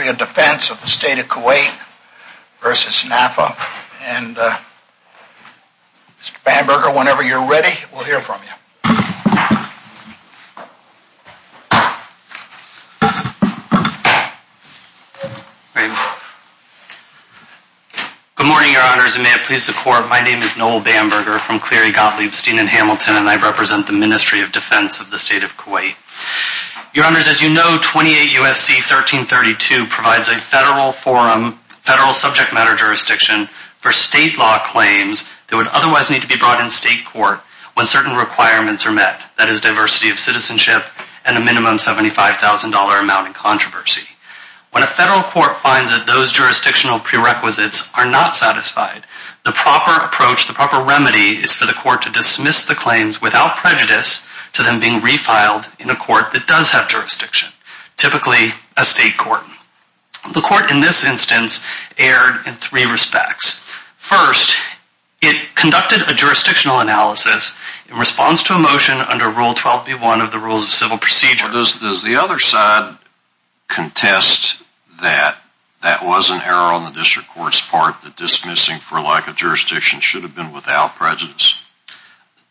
of Defense of the State of Kuwait v. Naffa. Mr. Bamberger, whenever you're ready, we'll hear from you. Good morning, Your Honours, and may it please the Court, my name is Noel Bamberger from Cleary, Gottlieb, Steen and Hamilton and I represent the Ministry of Defence of the State of Kuwait. Your Honours, as you know, 28 U.S.C. 1332 provides a federal forum, federal subject matter jurisdiction for state law claims that would otherwise need to be brought in state court when certain requirements are met, that is diversity of citizenship and a minimum $75,000 amount in controversy. When a federal court finds that those jurisdictional prerequisites are not satisfied, the proper approach, the proper remedy is for the court to dismiss the claims without prejudice to them being a state court. The court in this instance erred in three respects. First, it conducted a jurisdictional analysis in response to a motion under Rule 12b1 of the Rules of Civil Procedure. Does the other side contest that that was an error on the district court's part that dismissing for lack of jurisdiction should have been without prejudice?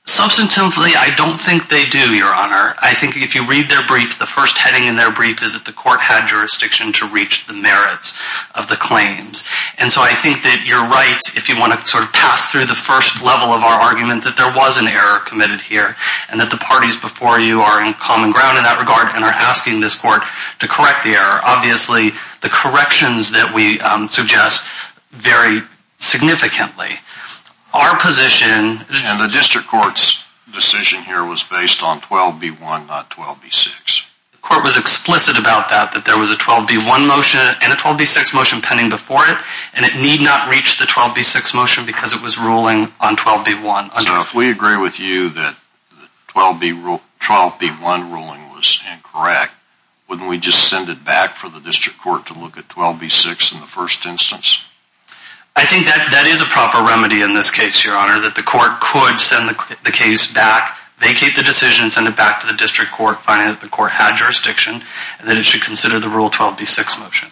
Substantively, I don't think they do, Your Honour. I think if you read their brief, the first heading in their brief is that the court had jurisdiction to reach the merits of the claims. And so I think that you're right if you want to sort of pass through the first level of our argument that there was an error committed here and that the parties before you are in common ground in that regard and are asking this court to correct the error. Obviously, the corrections that we suggest vary significantly. Our position... And the district court's decision here was based on 12b1, not 12b6. The court was explicit about that, that there was a 12b1 motion and a 12b6 motion pending before it and it need not reach the 12b6 motion because it was ruling on 12b1. So if we agree with you that the 12b1 ruling was incorrect, wouldn't we just send it back for the district court to look at 12b6 in the first instance? I think that is a proper remedy in this case, Your Honour, that the court could send the case back, vacate the decision, send it back to the district court, finding that the court had jurisdiction and that it should consider the Rule 12b6 motion.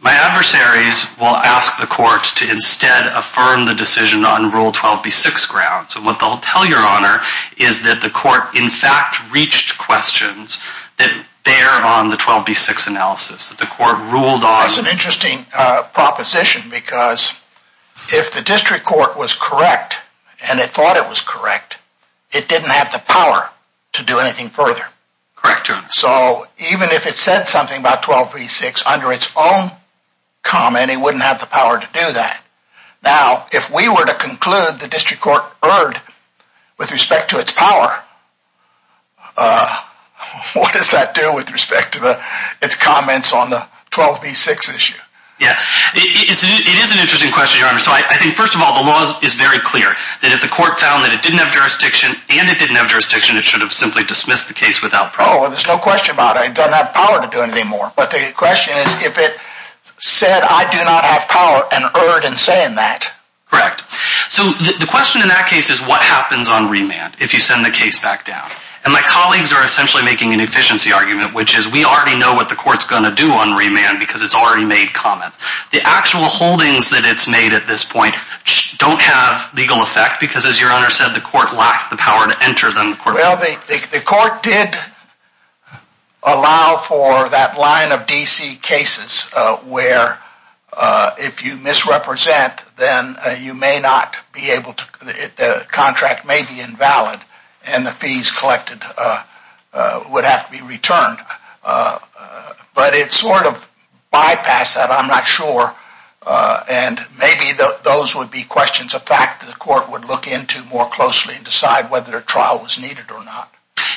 My adversaries will ask the court to instead affirm the decision on Rule 12b6 grounds. And what they'll tell Your Honour is that the court in fact reached questions that bear on the 12b6 analysis. That's an interesting proposition because if the district court was correct and it thought it was correct, it didn't have the power to do anything further. So even if it said something about 12b6 under its own comment, it wouldn't have the power to do that. Now, if we were to conclude the district court erred with respect to its power, what does that do with respect to its comments on the 12b6 issue? It is an interesting question, Your Honour. So I think, first of all, the law is very clear that if the court found that it didn't have jurisdiction and it didn't have jurisdiction, it should have simply dismissed the case without problem. Oh, there's no question about it. It doesn't have power to do it anymore. But the question is if it said I do not have power and erred in saying that. Correct. So the question in that case is what happens on remand if you send the case back down? And my colleagues are essentially making an efficiency argument, which is we already know what the court's going to do on remand because it's already made comments. The actual holdings that it's made at this point don't have legal effect because, as Your Honour said, the court lacked the power to enter them. Well, the court did allow for that line of DC cases where if you would have to be returned. But it sort of bypassed that, I'm not sure. And maybe those would be questions of fact that the court would look into more closely and decide whether a trial was needed or not.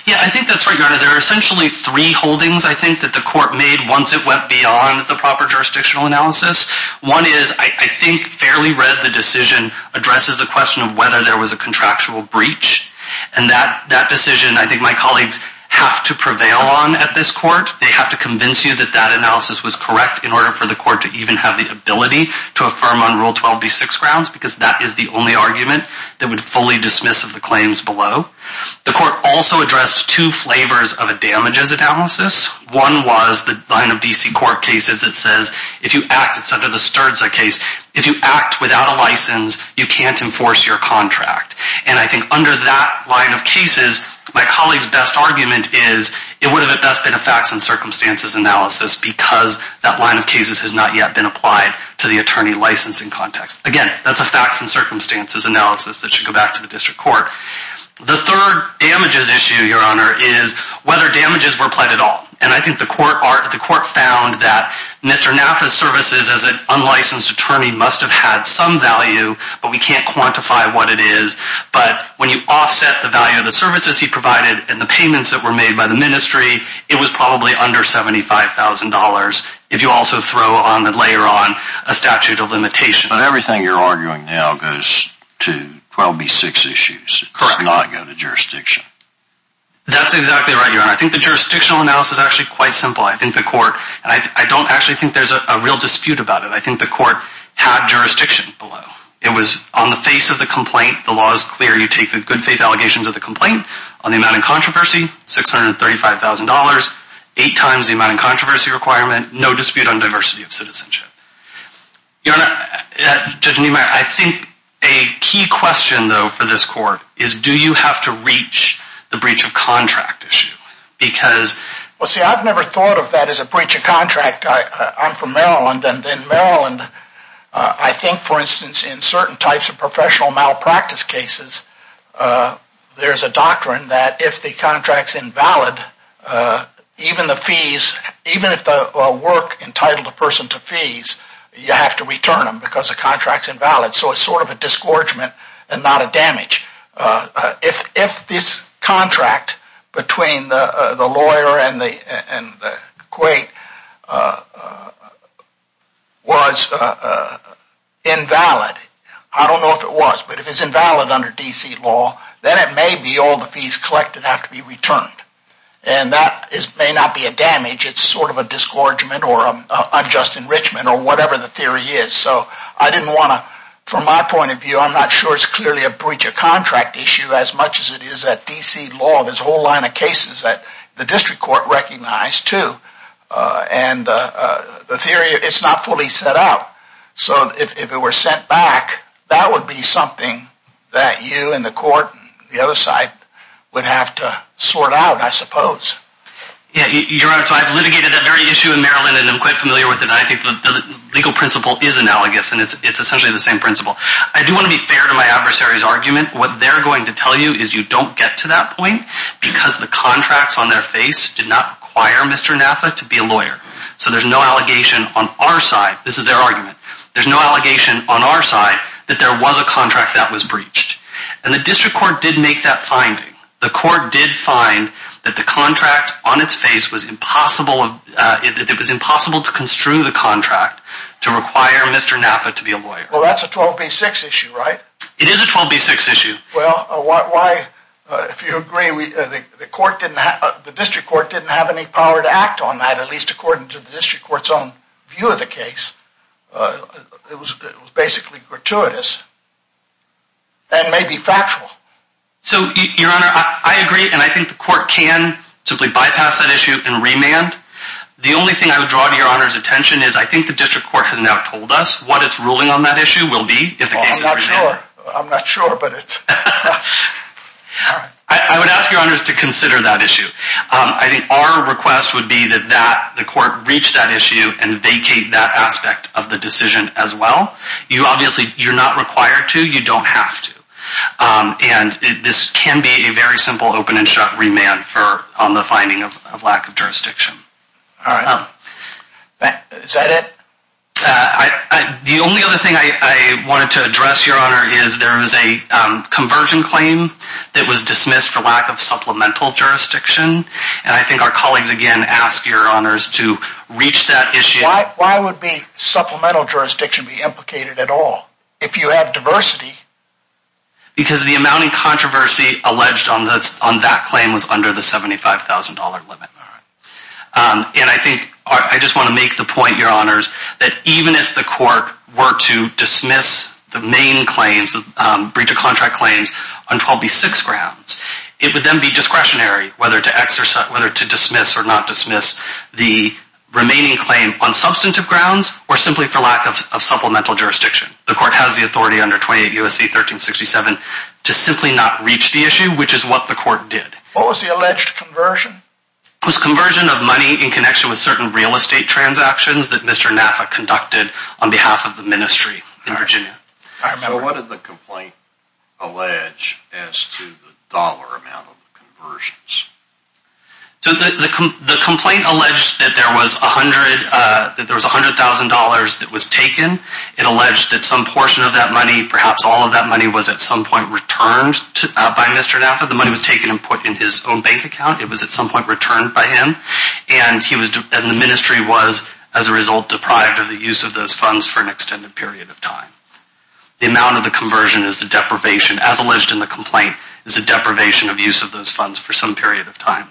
Yeah, I think that's right, Your Honour. There are essentially three holdings, I think, that the court made once it went beyond the proper jurisdictional analysis. One is, I think, fairly read the decision addresses the question of whether there was a contractual breach. And that decision, I think my colleagues have to prevail on at this court. They have to convince you that that analysis was correct in order for the court to even have the ability to affirm on Rule 12B6 grounds because that is the only argument that would fully dismiss of the claims below. The court also addressed two flavors of a damages analysis. One was the line of DC court cases that says if you act, it's And I think under that line of cases, my colleague's best argument is it would have at best been a facts and circumstances analysis because that line of cases has not yet been applied to the attorney licensing context. Again, that's a facts and circumstances analysis that should go back to the district court. The third damages issue, Your Honour, is whether damages were applied at all. And I think the court found that Mr. Naffa's services as an But when you offset the value of the services he provided and the payments that were made by the ministry, it was probably under $75,000 if you also throw on and layer on a statute of limitation. But everything you're arguing now goes to 12B6 issues. It does not go to jurisdiction. That's exactly right, Your Honour. I think the jurisdictional analysis is actually quite simple. I think the court, and I don't actually think there's a real dispute about it, I think on the face of the complaint, the law is clear. You take the good faith allegations of the complaint on the amount of controversy, $635,000, eight times the amount of controversy requirement, no dispute on diversity of citizenship. Your Honour, Judge Niemeyer, I think a key question though for this court is do you have to reach the breach of contract issue? Because, well see, I've never thought of that as a breach of contract. I'm from Maryland, and in Maryland, I think, for instance, in certain types of professional malpractice cases, there's a doctrine that if the contract's invalid, even the fees, even if the work entitled a person to fees, you have to return them because the contract's invalid. So it's sort of a disgorgement and not a damage. If this contract between the lawyer and the equate was invalid, I don't know if it was, but if it's invalid under D.C. law, then it may be all the fees collected have to be returned. And that may not be a damage. It's sort of a disgorgement or unjust enrichment or whatever the theory is. So I didn't want to, from my point of view, I'm not sure it's clearly a breach of contract issue as much as it is that D.C. law. There's a whole line of cases that the district court recognized too. And the theory, it's not fully set out. So if it were sent back, that would be something that you and the court, the other side, would have to sort out, I suppose. Yeah, Your Honour, so I've litigated that very issue in Maryland, and I'm quite familiar with it. I think the legal principle is analogous, and it's essentially the same principle. I do want to be fair to my adversary's argument. What they're going to tell you is you don't get to that point because the contracts on their face did not require Mr. Naffa to be a lawyer. So there's no allegation on our side, this is their argument, there's no allegation on our side that there was a contract that was breached. And the district court did make that finding. The court did find that the contract on its face was impossible, it was impossible to construe the contract to require Mr. Naffa to be a lawyer. Well, that's a 12B6 issue, right? It is a 12B6 issue. Well, why, if you agree, the court didn't have, the district court didn't have any power to act on that, at least according to the district court's own view of the case. It was basically gratuitous and maybe factual. So, Your Honour, I agree, and I think the court can simply bypass that issue and remand. The only thing I would draw to Your Honour's attention is I think the district court has now told us what its ruling on that issue will be if the case is remanded. I'm not sure, but it's... I would ask Your Honour to consider that issue. I think our request would be that the court reach that issue and vacate that aspect of the decision as well. You obviously, you're not required to, you don't have to. And this can be a very simple open and shut remand on the finding of lack of jurisdiction. All right. Is that it? The only other thing I wanted to address, Your Honour, is there was a conversion claim that was dismissed for lack of supplemental jurisdiction, and I think our colleagues, again, ask Your Honours to reach that issue. Why would supplemental jurisdiction be implicated at all if you have diversity? Because the amount of controversy alleged on that claim was under the $75,000 limit. And I think, I just want to make the point, Your Honours, that even if the court were to dismiss the main claims, the breach of contract claims, on 12B6 grounds, it would then be discretionary whether to dismiss or not dismiss the remaining claim on substantive grounds or simply for lack of supplemental jurisdiction. The court has the authority under 28 U.S.C. 1367 to simply not reach the issue, which is what the court did. What was the alleged conversion? It was a conversion of money in connection with certain real estate transactions that Mr. Naffa conducted on behalf of the ministry in Virginia. All right. Now, what did the complaint allege as to the dollar amount of the conversions? The complaint alleged that there was $100,000 that was taken. It alleged that some portion of that money, perhaps all of that money, was at some point returned by Mr. Naffa. The money was taken and put in his own bank account. It was returned by him. And the ministry was, as a result, deprived of the use of those funds for an extended period of time. The amount of the conversion is the deprivation, as alleged in the complaint, is the deprivation of use of those funds for some period of time.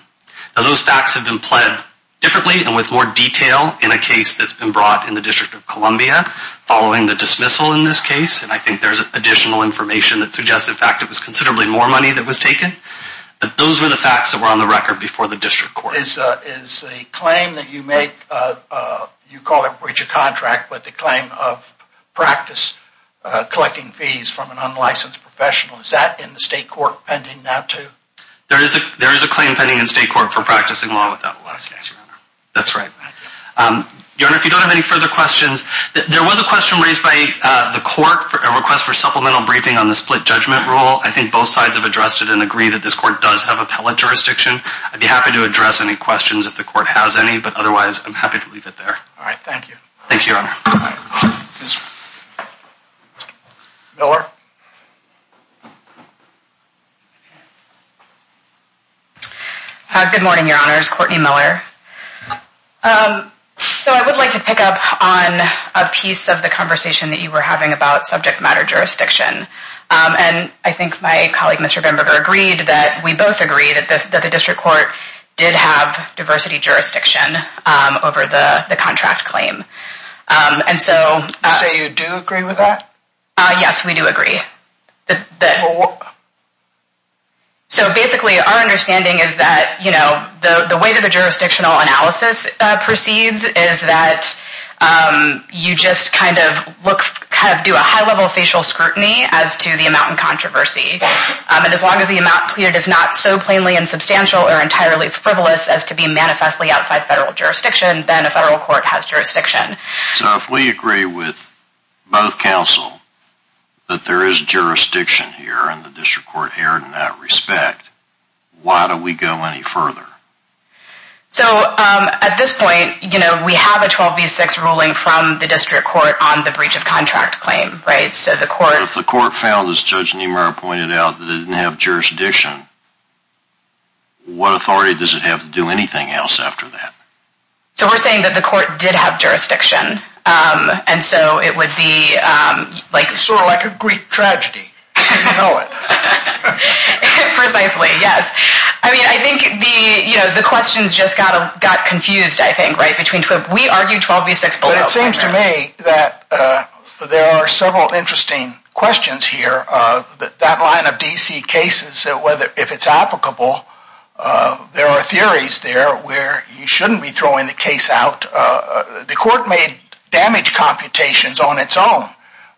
Now, those facts have been pled differently and with more detail in a case that's been brought in the District of Columbia following the dismissal in this case. And I think there's additional information that suggests, in fact, it was considerably more money that was taken. But those were the facts that were before the District Court. Is the claim that you make, you call it breach of contract, but the claim of practice collecting fees from an unlicensed professional, is that in the state court pending now too? There is a claim pending in state court for practicing law without license, Your Honor. That's right. Your Honor, if you don't have any further questions, there was a question raised by the court for a request for supplemental briefing on the split judgment rule. I think both sides have addressed it and agree that this court does have appellate jurisdiction. I'd be happy to address any questions if the court has any, but otherwise I'm happy to leave it there. All right, thank you. Thank you, Your Honor. Ms. Miller? Good morning, Your Honors. Courtney Miller. So I would like to pick up on a piece of the conversation that you were having about subject matter jurisdiction. And I think my colleague, Mr. Benberger, agreed that we both agree that the District Court did have diversity jurisdiction over the contract claim. And so... So you do agree with that? Yes, we do agree. So basically, our understanding is that, you know, the way that the jurisdictional analysis proceeds is that you just kind of look, kind of do a high level facial scrutiny as to the controversy. And as long as the amount pleaded is not so plainly and substantial or entirely frivolous as to be manifestly outside federal jurisdiction, then a federal court has jurisdiction. So if we agree with both counsel that there is jurisdiction here and the District Court erred in that respect, why do we go any further? So at this point, you know, we have a 12 v. 6 ruling from the District Court on the breach of contract claim, right? So the court... Judge Niemeyer pointed out that it didn't have jurisdiction. What authority does it have to do anything else after that? So we're saying that the court did have jurisdiction. And so it would be like... Sort of like a Greek tragedy, if you know it. Precisely, yes. I mean, I think the, you know, the questions just got confused, I think, right, between... We argued 12 v. 6 below. Seems to me that there are several interesting questions here. That line of D.C. cases, whether if it's applicable, there are theories there where you shouldn't be throwing the case out. The court made damage computations on its own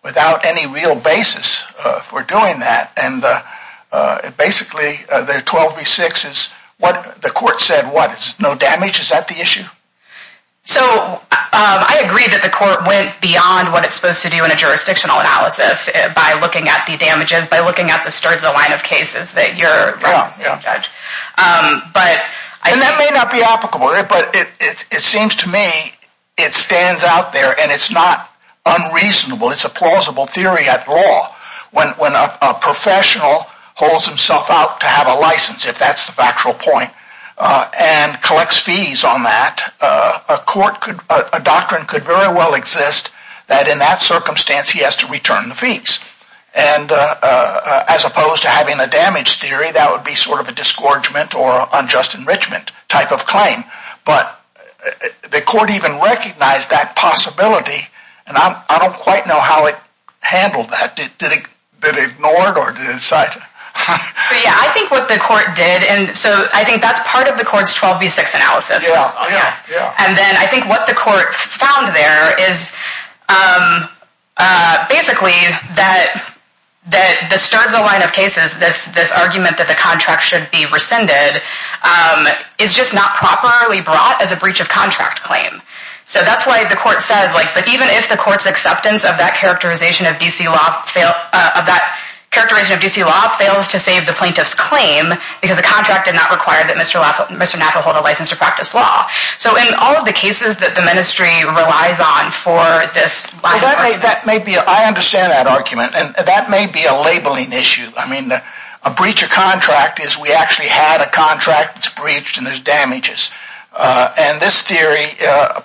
without any real basis for doing that. And basically, the 12 v. 6 is what the court said what? It's no damage? Is that the issue? So I agree that the court went beyond what it's supposed to do in a jurisdictional analysis by looking at the damages, by looking at the sturds of line of cases that you're wrong, Judge. And that may not be applicable, but it seems to me it stands out there and it's not unreasonable. It's a plausible theory at law. When a professional holds himself out to have license, if that's the factual point, and collects fees on that, a doctrine could very well exist that in that circumstance, he has to return the fees. And as opposed to having a damage theory, that would be sort of a disgorgement or unjust enrichment type of claim. But the court even recognized that possibility. And I don't quite know how it handled that. Did it ignore it or did it cite it? I think what the court did, and so I think that's part of the court's 12 v. 6 analysis. And then I think what the court found there is basically that the sturds of line of cases, this argument that the contract should be rescinded, is just not properly brought as a breach of contract claim. So that's why the court says like, but even if the court's of that characterization of D.C. law fails to save the plaintiff's claim, because the contract did not require that Mr. Napa hold a license to practice law. So in all of the cases that the ministry relies on for this line of argument. I understand that argument. And that may be a labeling issue. I mean, a breach of contract is we actually had a contract, it's breached, and there's damages. And this theory,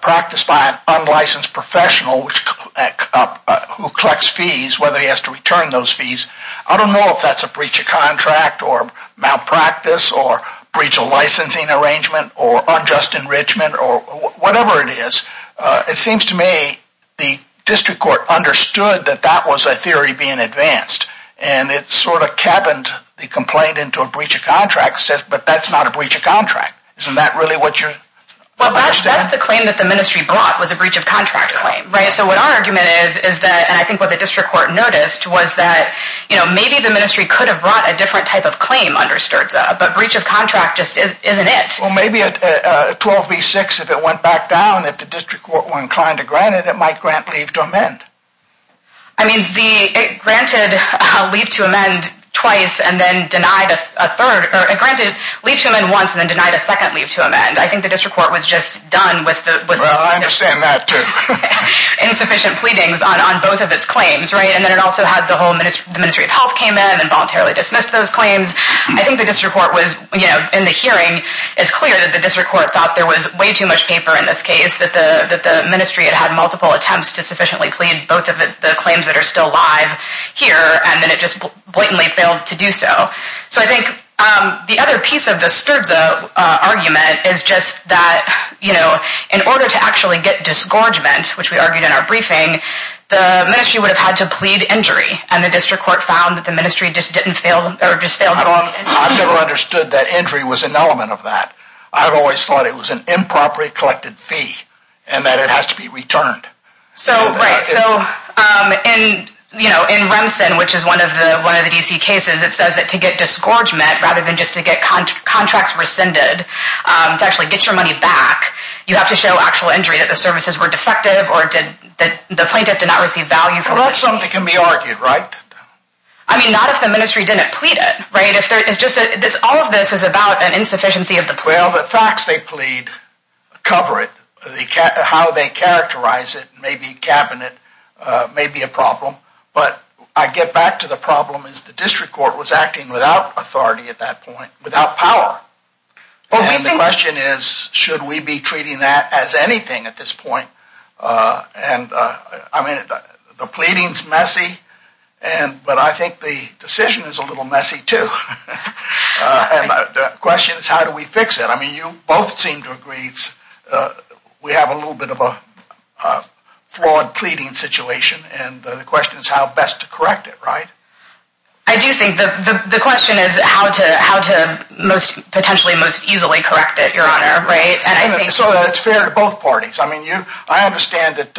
practiced by an unlicensed professional, who collects fees, whether he has to return those fees. I don't know if that's a breach of contract or malpractice or breach of licensing arrangement or unjust enrichment or whatever it is. It seems to me the district court understood that that was a theory being advanced. And it sort of cabined the complaint into a breach of contract, but that's not a breach of contract. Isn't that really what you're... Well, that's the claim that the ministry brought was a breach of contract claim, right? So what our argument is, is that, and I think what the district court noticed, was that, you know, maybe the ministry could have brought a different type of claim under STRZA, but breach of contract just isn't it. Well, maybe at 12B6, if it went back down, if the district court were inclined to grant it, it might grant leave to amend. I mean, it granted leave to amend twice and then denied a third, or it granted leave to amend once and then denied a second leave to amend. I think the district court was just done with the... Well, I understand that too. Insufficient pleadings on both of its claims, right? And then it also had the whole ministry of health came in and voluntarily dismissed those claims. I think the district court was, you know, in the hearing, it's clear that the district court thought there was way too much paper in this case, that the ministry had had multiple attempts to sufficiently plead both of the claims that are still alive here, and then it just blatantly failed to do so. So I think the other piece of the STRZA argument is just that, you know, in order to actually get disgorgement, which we argued in our briefing, the ministry would have had to plead injury, and the district court found that the ministry just didn't fail, or just failed... I've never understood that injury was an element of that. I've always thought it was an improperly collected fee, and that it has to be returned. So, right, so in, you know, in Remsen, which is one of the DC cases, it says that to get disgorgement, rather than just to get contracts rescinded, to actually get your money back, you have to show actual injury, that the services were defective, or did that the plaintiff did not receive value... Well, that's something that can be argued, right? I mean, not if the ministry didn't plead it, right? If there is just a, this, all of this is about an insufficiency of the... Well, the facts they plead cover it, how they characterize it, maybe cabinet may be a problem, but I get back to the problem, is the district court was acting without authority at that point, without power. Well, the question is, should we be treating that as anything at this point? And, I mean, the pleading's messy, and, but I think the decision is a little messy, too. And the question is, how do we fix it? I mean, you both seem to agree, it's, we have a little bit of a flawed pleading situation, and the question is, how best to correct it, right? I do think that the question is, how to, how to most, potentially most easily correct it, your honor, right? And I think... So, it's fair to both parties, I mean, you, I understand that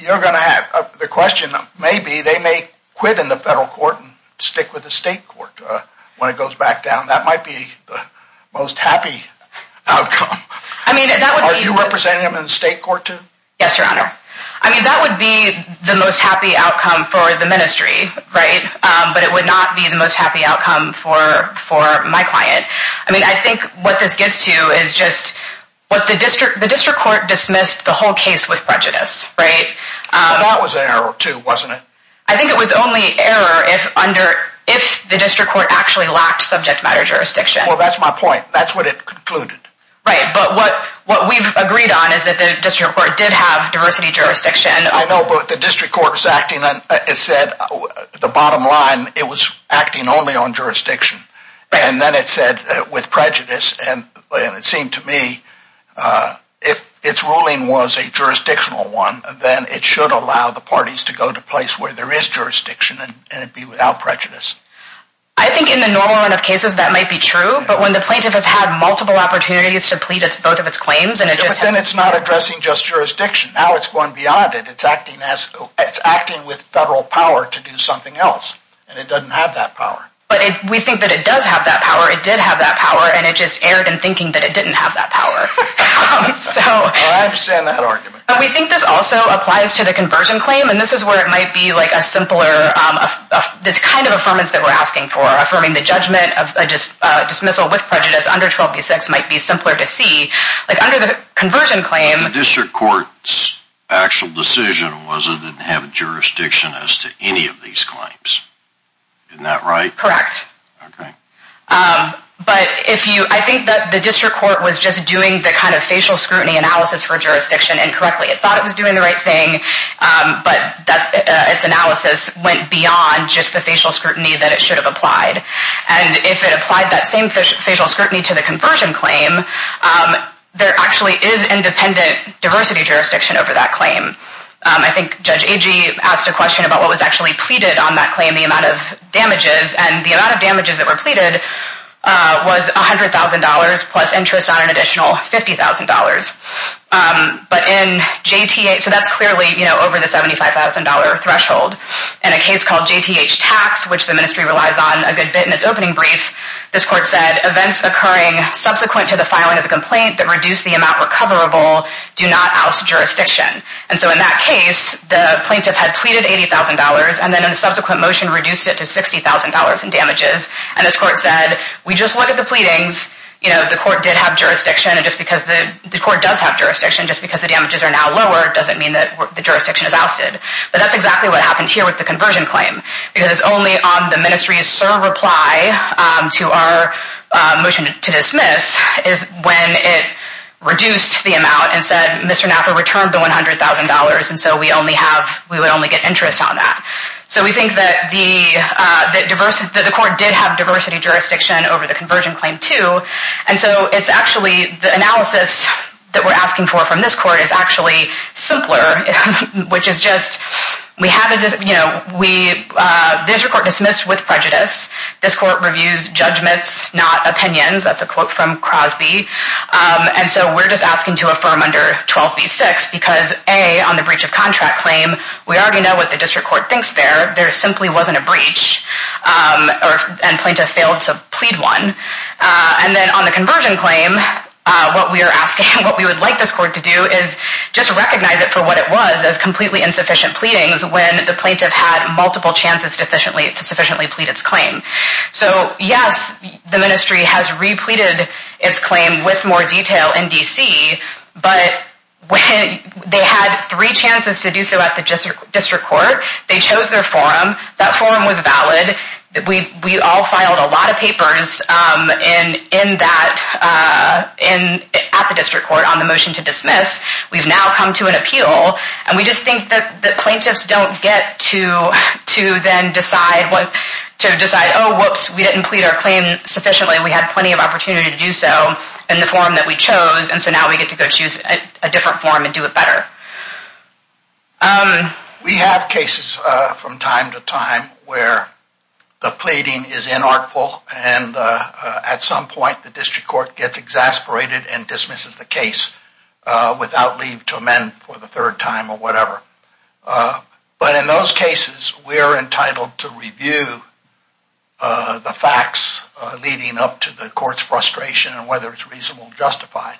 you're going to have the question, maybe they may quit in the federal court and stick with the state court when it goes back down, that might be the most happy outcome. I mean, that would be... Are you representing them in the state court, too? Yes, your honor. I mean, that would be the most happy outcome for the ministry, right? But it would not be the most happy outcome for, for my client. I mean, I think what this gets to is just what the district, the district court dismissed the whole case with prejudice, right? Well, that was an error, too, wasn't it? I think it was only error if under, if the district court actually lacked subject matter jurisdiction. Well, that's my point, that's what it concluded. Right, but what, what we've agreed on is that the district court did have diversity jurisdiction. I know, but the district court was acting on, it said, the bottom line, it was acting only on jurisdiction. And then it said, with prejudice, and it seemed to me, if its ruling was a jurisdictional one, then it should allow the parties to go to a place where there is jurisdiction and it'd be without prejudice. I think in the normal run of cases that might be true, but when the plaintiff has had multiple opportunities to plead both of its claims and it just hasn't... But then it's not addressing just jurisdiction. Now it's going beyond it. It's acting as, it's acting with federal power to do something else, and it doesn't have that power. But it, we think that it does have that power, it did have that power, and it just erred in thinking that it didn't have that power. So... I understand that argument. But we think this also applies to the conversion claim, and this is where it might be a simpler, this kind of affirmance that we're asking for. Affirming the judgment of dismissal with prejudice under 12b6 might be simpler to see. Under the conversion claim... The district court's actual decision was it didn't have jurisdiction as to any of these claims. Isn't that right? Correct. Okay. But if you, I think that the district court was just doing the kind of facial scrutiny analysis for jurisdiction incorrectly. It thought it was doing the right thing, but its analysis went beyond just the facial scrutiny that it should have applied. And if it applied that same facial scrutiny to the conversion claim, there actually is independent diversity jurisdiction over that claim. I think Judge Agee asked a question about what was actually pleaded on that claim, the amount of damages, and the amount of damages that were pleaded was $100,000 plus interest on an additional $50,000. But in JTA, so that's clearly, you know, over the $75,000 threshold. In a case called JTH Tax, which the ministry relies on a good bit in its opening brief, this court said events occurring subsequent to the filing of the complaint that reduce the amount recoverable do not oust jurisdiction. And so in that case, the plaintiff had pleaded $80,000 and then in a subsequent motion reduced it to $60,000 in damages. And this court said, we just look at the pleadings, you know, the court did have jurisdiction. And just because the court does have jurisdiction, just because the damages are now lower, it doesn't mean that the jurisdiction is ousted. But that's exactly what happened here with the conversion claim, because only on the ministry's sole reply to our motion to dismiss is when it reduced the amount and said, Mr. Napper returned the $100,000. And so we only have, we would only get interest on that. So we think that the, that the court did have diversity jurisdiction over the conversion claim too. And so it's actually, the analysis that we're asking for from this court is actually simpler, which is just, we have a, you know, we, this court dismissed with prejudice. This court reviews judgments, not opinions. That's a quote from Crosby. And so we're just asking to affirm under 12B6 because A, on the breach of contract claim, we already know what the district court thinks there. There simply wasn't a breach and plaintiff failed to plead one. And then on the conversion claim, what we are asking, what we would like this court to do is just recognize it for what it was as completely insufficient pleadings when the plaintiff had multiple chances to sufficiently plead its claim. So yes, the ministry has repleted its claim with more detail in DC, but when they had three chances to do so at the district court, they chose their forum. That forum was valid. We've, we all filed a lot of papers in, in that, in, at the district court on the motion to dismiss. We've now come to an appeal and we just think that the plaintiffs don't get to, to then decide what, to decide, oh, whoops, we didn't plead our claim sufficiently. We had plenty of opportunity to do so in the forum that we chose. And so now we get to go choose a different forum and do it better. We have cases from time to time where the pleading is inartful and at some point the district court gets exasperated and dismisses the case without leave to amend for the third time or whatever. But in those cases, we're entitled to the court's frustration and whether it's reasonable and justified.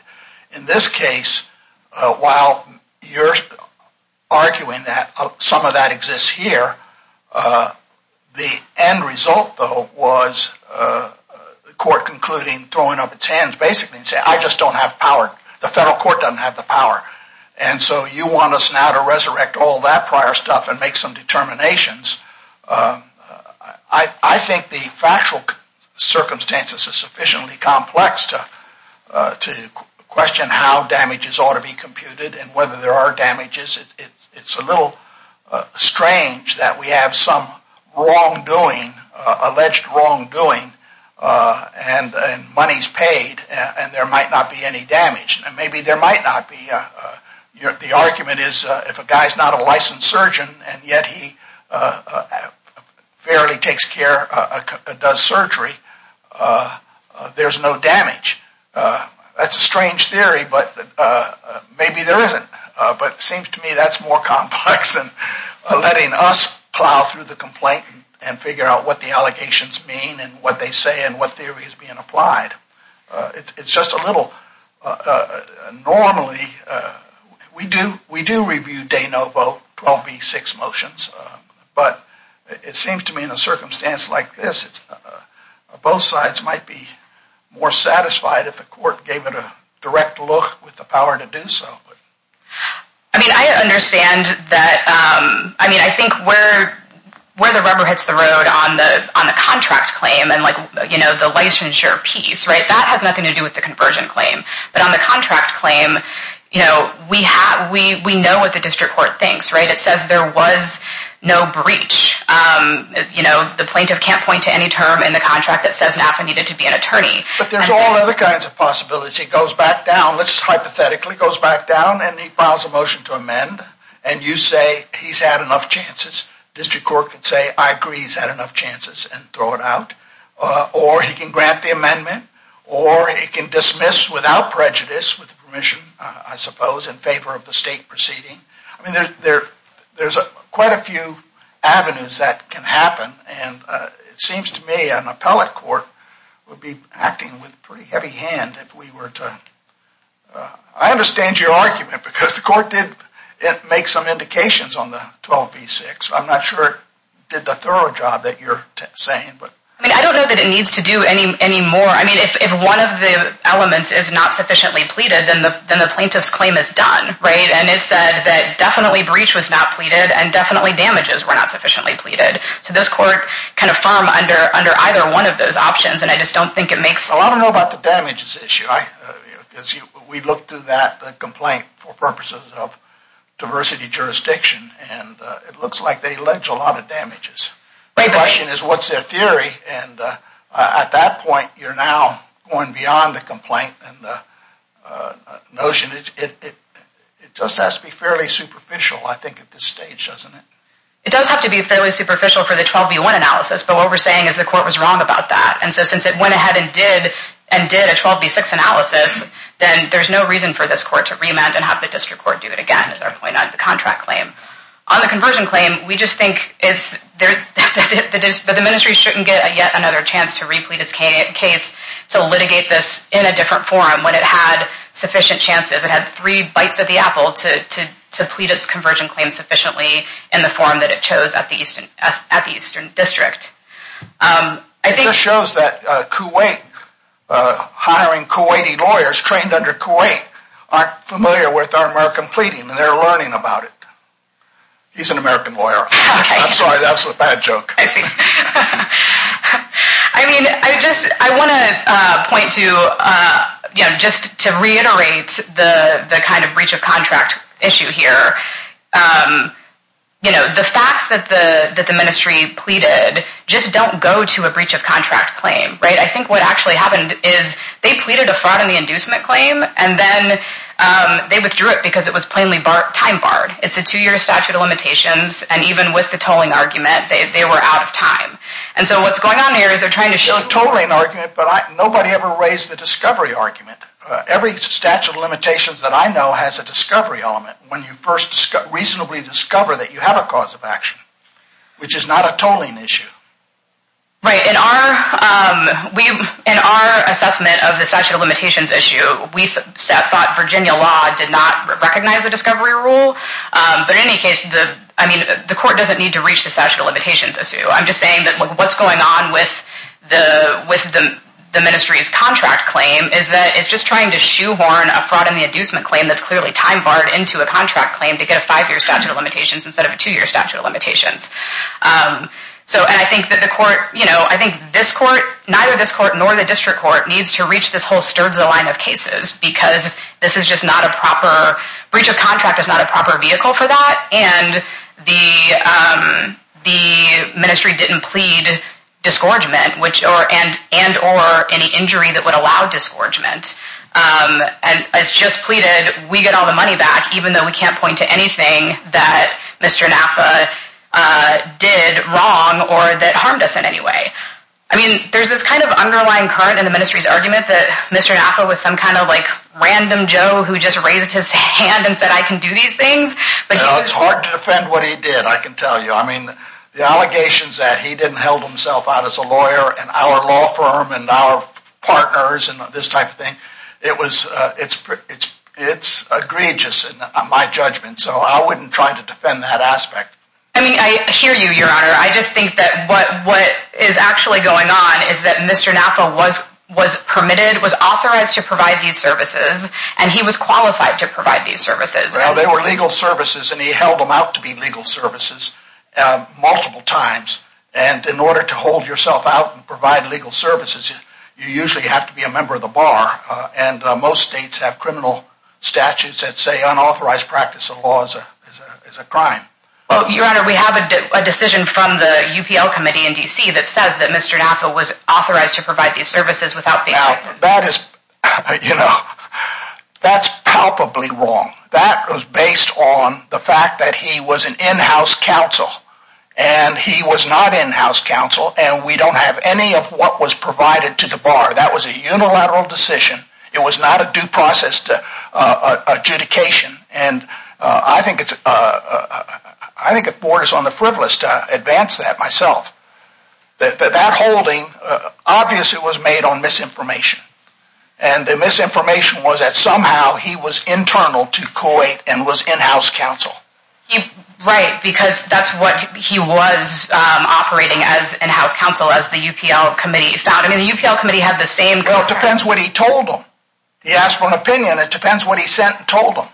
In this case, while you're arguing that some of that exists here, the end result though was the court concluding, throwing up its hands basically and say, I just don't have power. The federal court doesn't have the power. And so you want us now to resurrect all that prior stuff and make some determinations. I think the factual circumstances are sufficiently complex to question how damages ought to be computed and whether there are damages. It's a little strange that we have some wrongdoing, alleged wrongdoing, and money's paid and there might not be any damage. And maybe there might not be. The argument is if a guy's not a licensed surgeon and yet he fairly does surgery, there's no damage. That's a strange theory, but maybe there isn't. But it seems to me that's more complex than letting us plow through the complaint and figure out what the allegations mean and what theory is being applied. It's just a little, normally, we do review De Novo 12B6 motions, but it seems to me in a circumstance like this, both sides might be more satisfied if the court gave it a direct look with the power to do so. I mean, I understand that, I mean, I think where the rubber hits the road on the contract claim and the licensure piece, that has nothing to do with the conversion claim. But on the contract claim, we know what the district court thinks. It says there was no breach. The plaintiff can't point to any term in the contract that says NAFTA needed to be an attorney. But there's all other kinds of possibilities. He goes back down, let's hypothetically, goes back down and he files a motion to amend and you say he's had enough chances, district court could say I agree he's had enough chances and throw it out. Or he can grant the amendment or he can dismiss without prejudice with permission, I suppose, in favor of the state proceeding. I mean, there's quite a few avenues that can happen and it seems to me an appellate court would be acting with a pretty heavy hand if we were to, I understand your argument because the court did make some indications on the 12b-6. I'm not sure it did the thorough job that you're saying. I mean, I don't know that it needs to do any more. I mean, if one of the elements is not sufficiently pleaded, then the plaintiff's claim is done, right? And it said that definitely breach was not pleaded and definitely damages were not sufficiently pleaded. So this court can affirm under either one of those options and I just don't think it makes... I don't know about the damages issue. We looked through that complaint for purposes of diversity jurisdiction and it looks like they allege a lot of damages. The question is what's their theory and at that point you're now going beyond the complaint and the notion. It just has to be fairly superficial, I think, at this stage, doesn't it? It does have to be fairly superficial for the 12b-1 analysis, but what we're saying is the court was wrong about that and so since it went ahead and did a 12b-6 analysis, then there's no reason for this court to remand and have the district court do it again, is our point on the contract claim. On the conversion claim, we just think that the ministry shouldn't get yet another chance to replete its case to litigate this in a different forum when it had sufficient chances. It had three bites of the apple to plead its conversion claim sufficiently in the forum that it chose at the Eastern District. It just shows that Kuwait, hiring Kuwaiti lawyers trained under Kuwait, aren't familiar with our American pleading and they're learning about it. He's an American lawyer. I'm sorry, that was a bad joke. I see. I mean, I just want to point to, just to reiterate the kind of breach of contract issue here. You know, the facts that the ministry pleaded just don't go to a breach of contract claim, right? I think what actually happened is they pleaded a fraud in the inducement claim and then they withdrew it because it was plainly time barred. It's a two-year statute of limitations and even with the tolling argument, they were out of time and so what's going on here is they're trying to show... It's a tolling argument, but nobody ever raised the discovery argument. Every statute of limitations that I know has a discovery element when you first reasonably discover that you have a cause of action, which is not a tolling issue. Right. In our assessment of the statute of limitations issue, we thought Virginia law did not recognize the discovery rule, but in any case, the court doesn't need to reach the statute of limitations issue. I'm just saying that what's going on with the ministry's contract claim is that it's just trying to shoehorn a fraud in the inducement claim that's clearly time barred into a contract claim to get a five-year statute of limitations instead of a two-year statute of limitations. So, and I think that the court, you know, I think this court, neither this court nor the district court needs to reach this whole sturds of line of cases because this is just not a proper... Breach of contract is not a proper vehicle for that and the ministry didn't plead disgorgement and or any injury that would allow disgorgement. As just pleaded, we get all the money back even though we can't point to anything that Mr. Naffa did wrong or that harmed us in any way. I mean, there's this kind of underlying current in the ministry's argument that Mr. Naffa was some kind of like random Joe who just raised his hand and said, I can do these things, but... It's hard to defend what he did, I can tell you. I mean, the allegations that he didn't held himself out as a lawyer and our law firm and our partners and this type of thing, it was, it's, it's, it's egregious in my judgment. So, I wouldn't try to defend that aspect. I mean, I hear you, your honor. I just think that what, what is actually going on is that Mr. Naffa was, was permitted, was authorized to provide these services and he was qualified to provide these services. Well, they were legal services and he held them out to be legal services multiple times and in order to hold yourself out and provide legal services, you usually have to be a member of the bar and most states have criminal statutes that say unauthorized practice of laws is a crime. Well, your honor, we have a decision from the UPL committee in DC that says that Mr. Naffa was authorized to provide these services without... That is, you know, that's palpably wrong. That was based on the fact that he was an in-house counsel and he was not in-house counsel and we don't have any of what was provided to the bar. That was a unilateral decision. It was not a due process to adjudication and I think it's, I think it borders on the frivolous to advance that myself. That, that holding obviously was made on misinformation and the misinformation was that somehow he was internal to COIT and was in-house counsel. Right, because that's what he was operating as in-house counsel as the UPL committee found. I mean, the UPL committee had the same... Well, it depends what he told them. He asked for an opinion. It depends what he sent and told them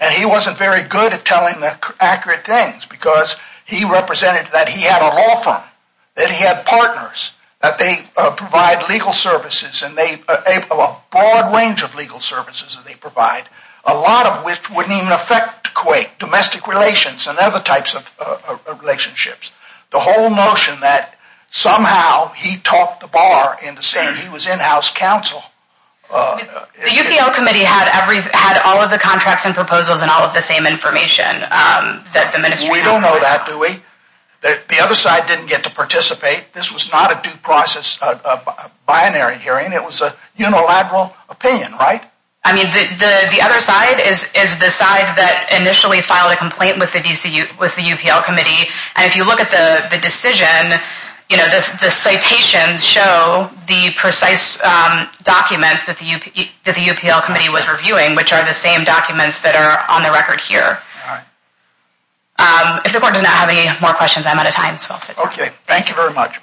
and he wasn't very good at telling the accurate things because he represented that he had a law firm, that he had partners, that they provide legal services and they have a broad range of legal services that they provide, a lot of which wouldn't even affect COIT, domestic relations and other types of relationships. The whole notion that somehow he talked the bar into saying he was in-house counsel... The UPL committee had every, had all the contracts and proposals and all of the same information that the ministry... We don't know that, do we? The other side didn't get to participate. This was not a due process, a binary hearing. It was a unilateral opinion, right? I mean, the, the other side is, is the side that initially filed a complaint with the DCU, with the UPL committee and if you look at the decision, you know, the citations show the precise documents that the UPL committee was filing and the documents that are on the record here. If the court does not have any more questions, I'm out of time. Okay, thank you very much.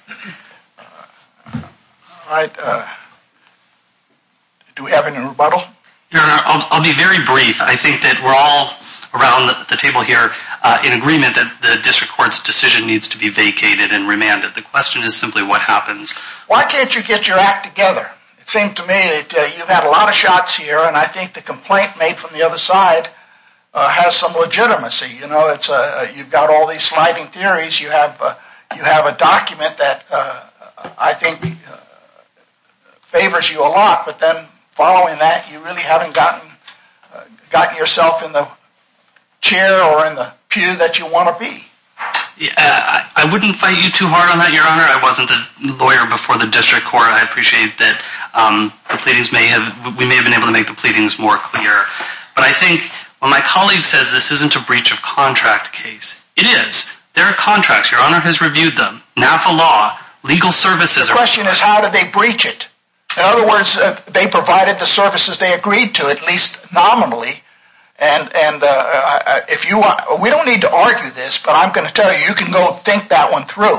All right, do we have any rebuttal? No, no, I'll be very brief. I think that we're all around the table here in agreement that the district court's decision needs to be vacated and remanded. The question is simply what happens. Why can't you get your act together? It seemed to me that you've had a lot of shots here and I think the complaint made from the other side has some legitimacy. You know, it's a, you've got all these sliding theories. You have, you have a document that I think favors you a lot, but then following that you really haven't gotten, gotten yourself in the chair or in the pew that you want to be. Yeah, I wouldn't fight you too hard on that, your honor. I wasn't a lawyer before the district court. I appreciate that the pleadings may have, we may have been able to make the pleadings more clear, but I think when my colleague says this isn't a breach of contract case, it is. There are contracts, your honor, has reviewed them now for law, legal services. The question is how did they breach it? In other words, they provided the services they agreed to, at least nominally, and, and if you want, we don't need to argue this, but I'm going to tell you, you can go think that one through.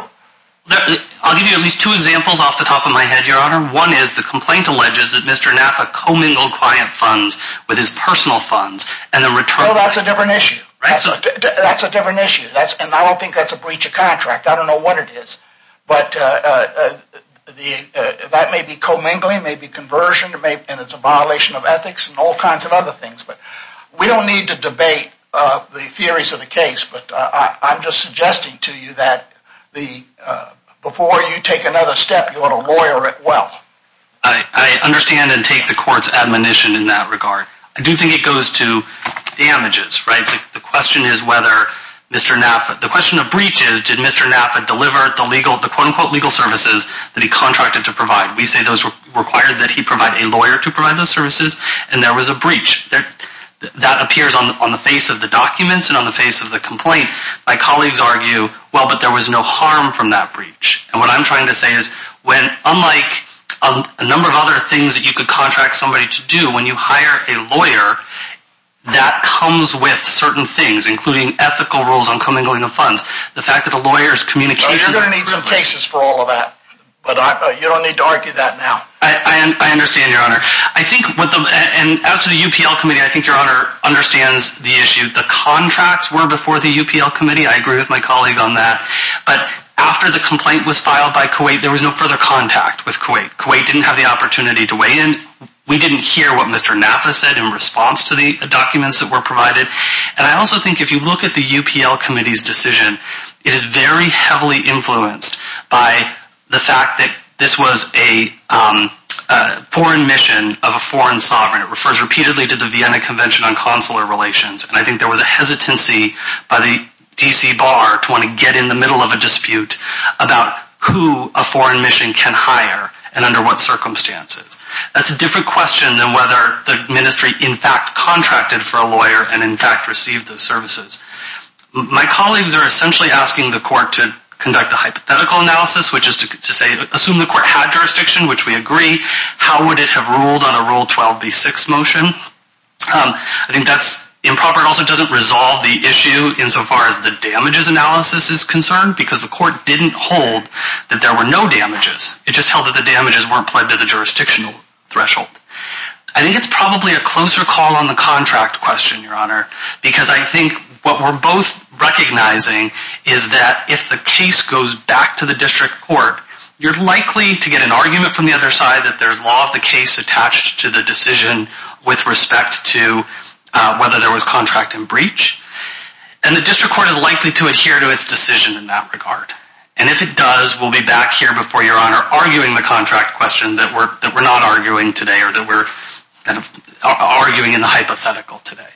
I'll give you at least two examples off the top of my head, your honor. One is the complaint alleges that Mr. Naffa co-mingled client funds with his personal funds and the return. Oh, that's a different issue. That's a different issue. That's, and I don't think that's a breach of contract. I don't know what it is, but the, that may be co-mingling, may be conversion, it may, and it's a violation of ethics and all kinds of other things, but we don't need to debate the theories of the case, but I'm just suggesting to you that the, before you take another step, you ought to lawyer it well. I, I understand and take the court's admonition in that regard. I do think it goes to damages, right? The question is whether Mr. Naffa, the question of breach is, did Mr. Naffa deliver the legal, the quote unquote legal services that he contracted to provide? We say those required that he provide a lawyer to provide those services, and there was a breach that appears on the, on the face of the documents and on the face of the complaint. My colleagues argue, well, but there was no harm from that breach, and what I'm trying to say is when, unlike a number of other things that you could contract somebody to do when you hire a lawyer that comes with certain things, including ethical rules on co-mingling of funds, the fact that a lawyer's communication... Oh, you're going to need some cases for all of that, but I, you don't need to argue that now. I, I understand your honor. I think what the, and as to the UPL committee, I think your honor understands the issue. The contracts were before the UPL committee. I agree with my colleague on that, but after the complaint was filed by Kuwait, there was no further contact with Kuwait. Kuwait didn't have the opportunity to weigh in. We didn't hear what Mr. Naffa said in response to the documents that were provided, and I also think if you look at the UPL committee's decision, it is very heavily influenced by the fact that was a foreign mission of a foreign sovereign. It refers repeatedly to the Vienna Convention on Consular Relations, and I think there was a hesitancy by the DC bar to want to get in the middle of a dispute about who a foreign mission can hire and under what circumstances. That's a different question than whether the ministry in fact contracted for a lawyer and in fact received those services. My colleagues are essentially asking the court to conduct a hypothetical analysis, which is to say assume the court had jurisdiction, which we agree. How would it have ruled on a Rule 12b6 motion? I think that's improper. It also doesn't resolve the issue insofar as the damages analysis is concerned, because the court didn't hold that there were no damages. It just held that the damages weren't plugged to the jurisdictional threshold. I think it's probably a closer call on the contract question, your honor, because I think what we're both recognizing is that if the case goes back to the district court, you're likely to get an argument from the other side that there's law of the case attached to the decision with respect to whether there was contract and breach, and the district court is likely to adhere to its decision in that regard. And if it does, we'll be back here before your honor arguing the contract question that we're not arguing today or that we're kind of arguing in the hypothetical today.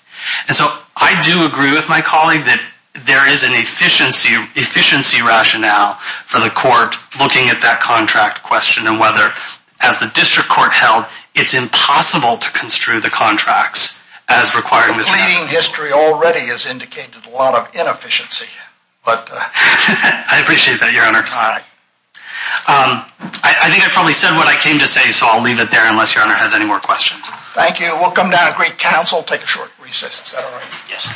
And so I do agree with my colleague that there is an efficiency rationale for the court looking at that contract question and whether, as the district court held, it's impossible to construe the contracts as required. Completing history already has indicated a lot of inefficiency, but I appreciate that, your honor. All right. I think I probably said what I came to say, so I'll leave it there unless your honor has any more questions. Thank you. We'll come down great counsel. Take a short recess. Is that all right? Yes.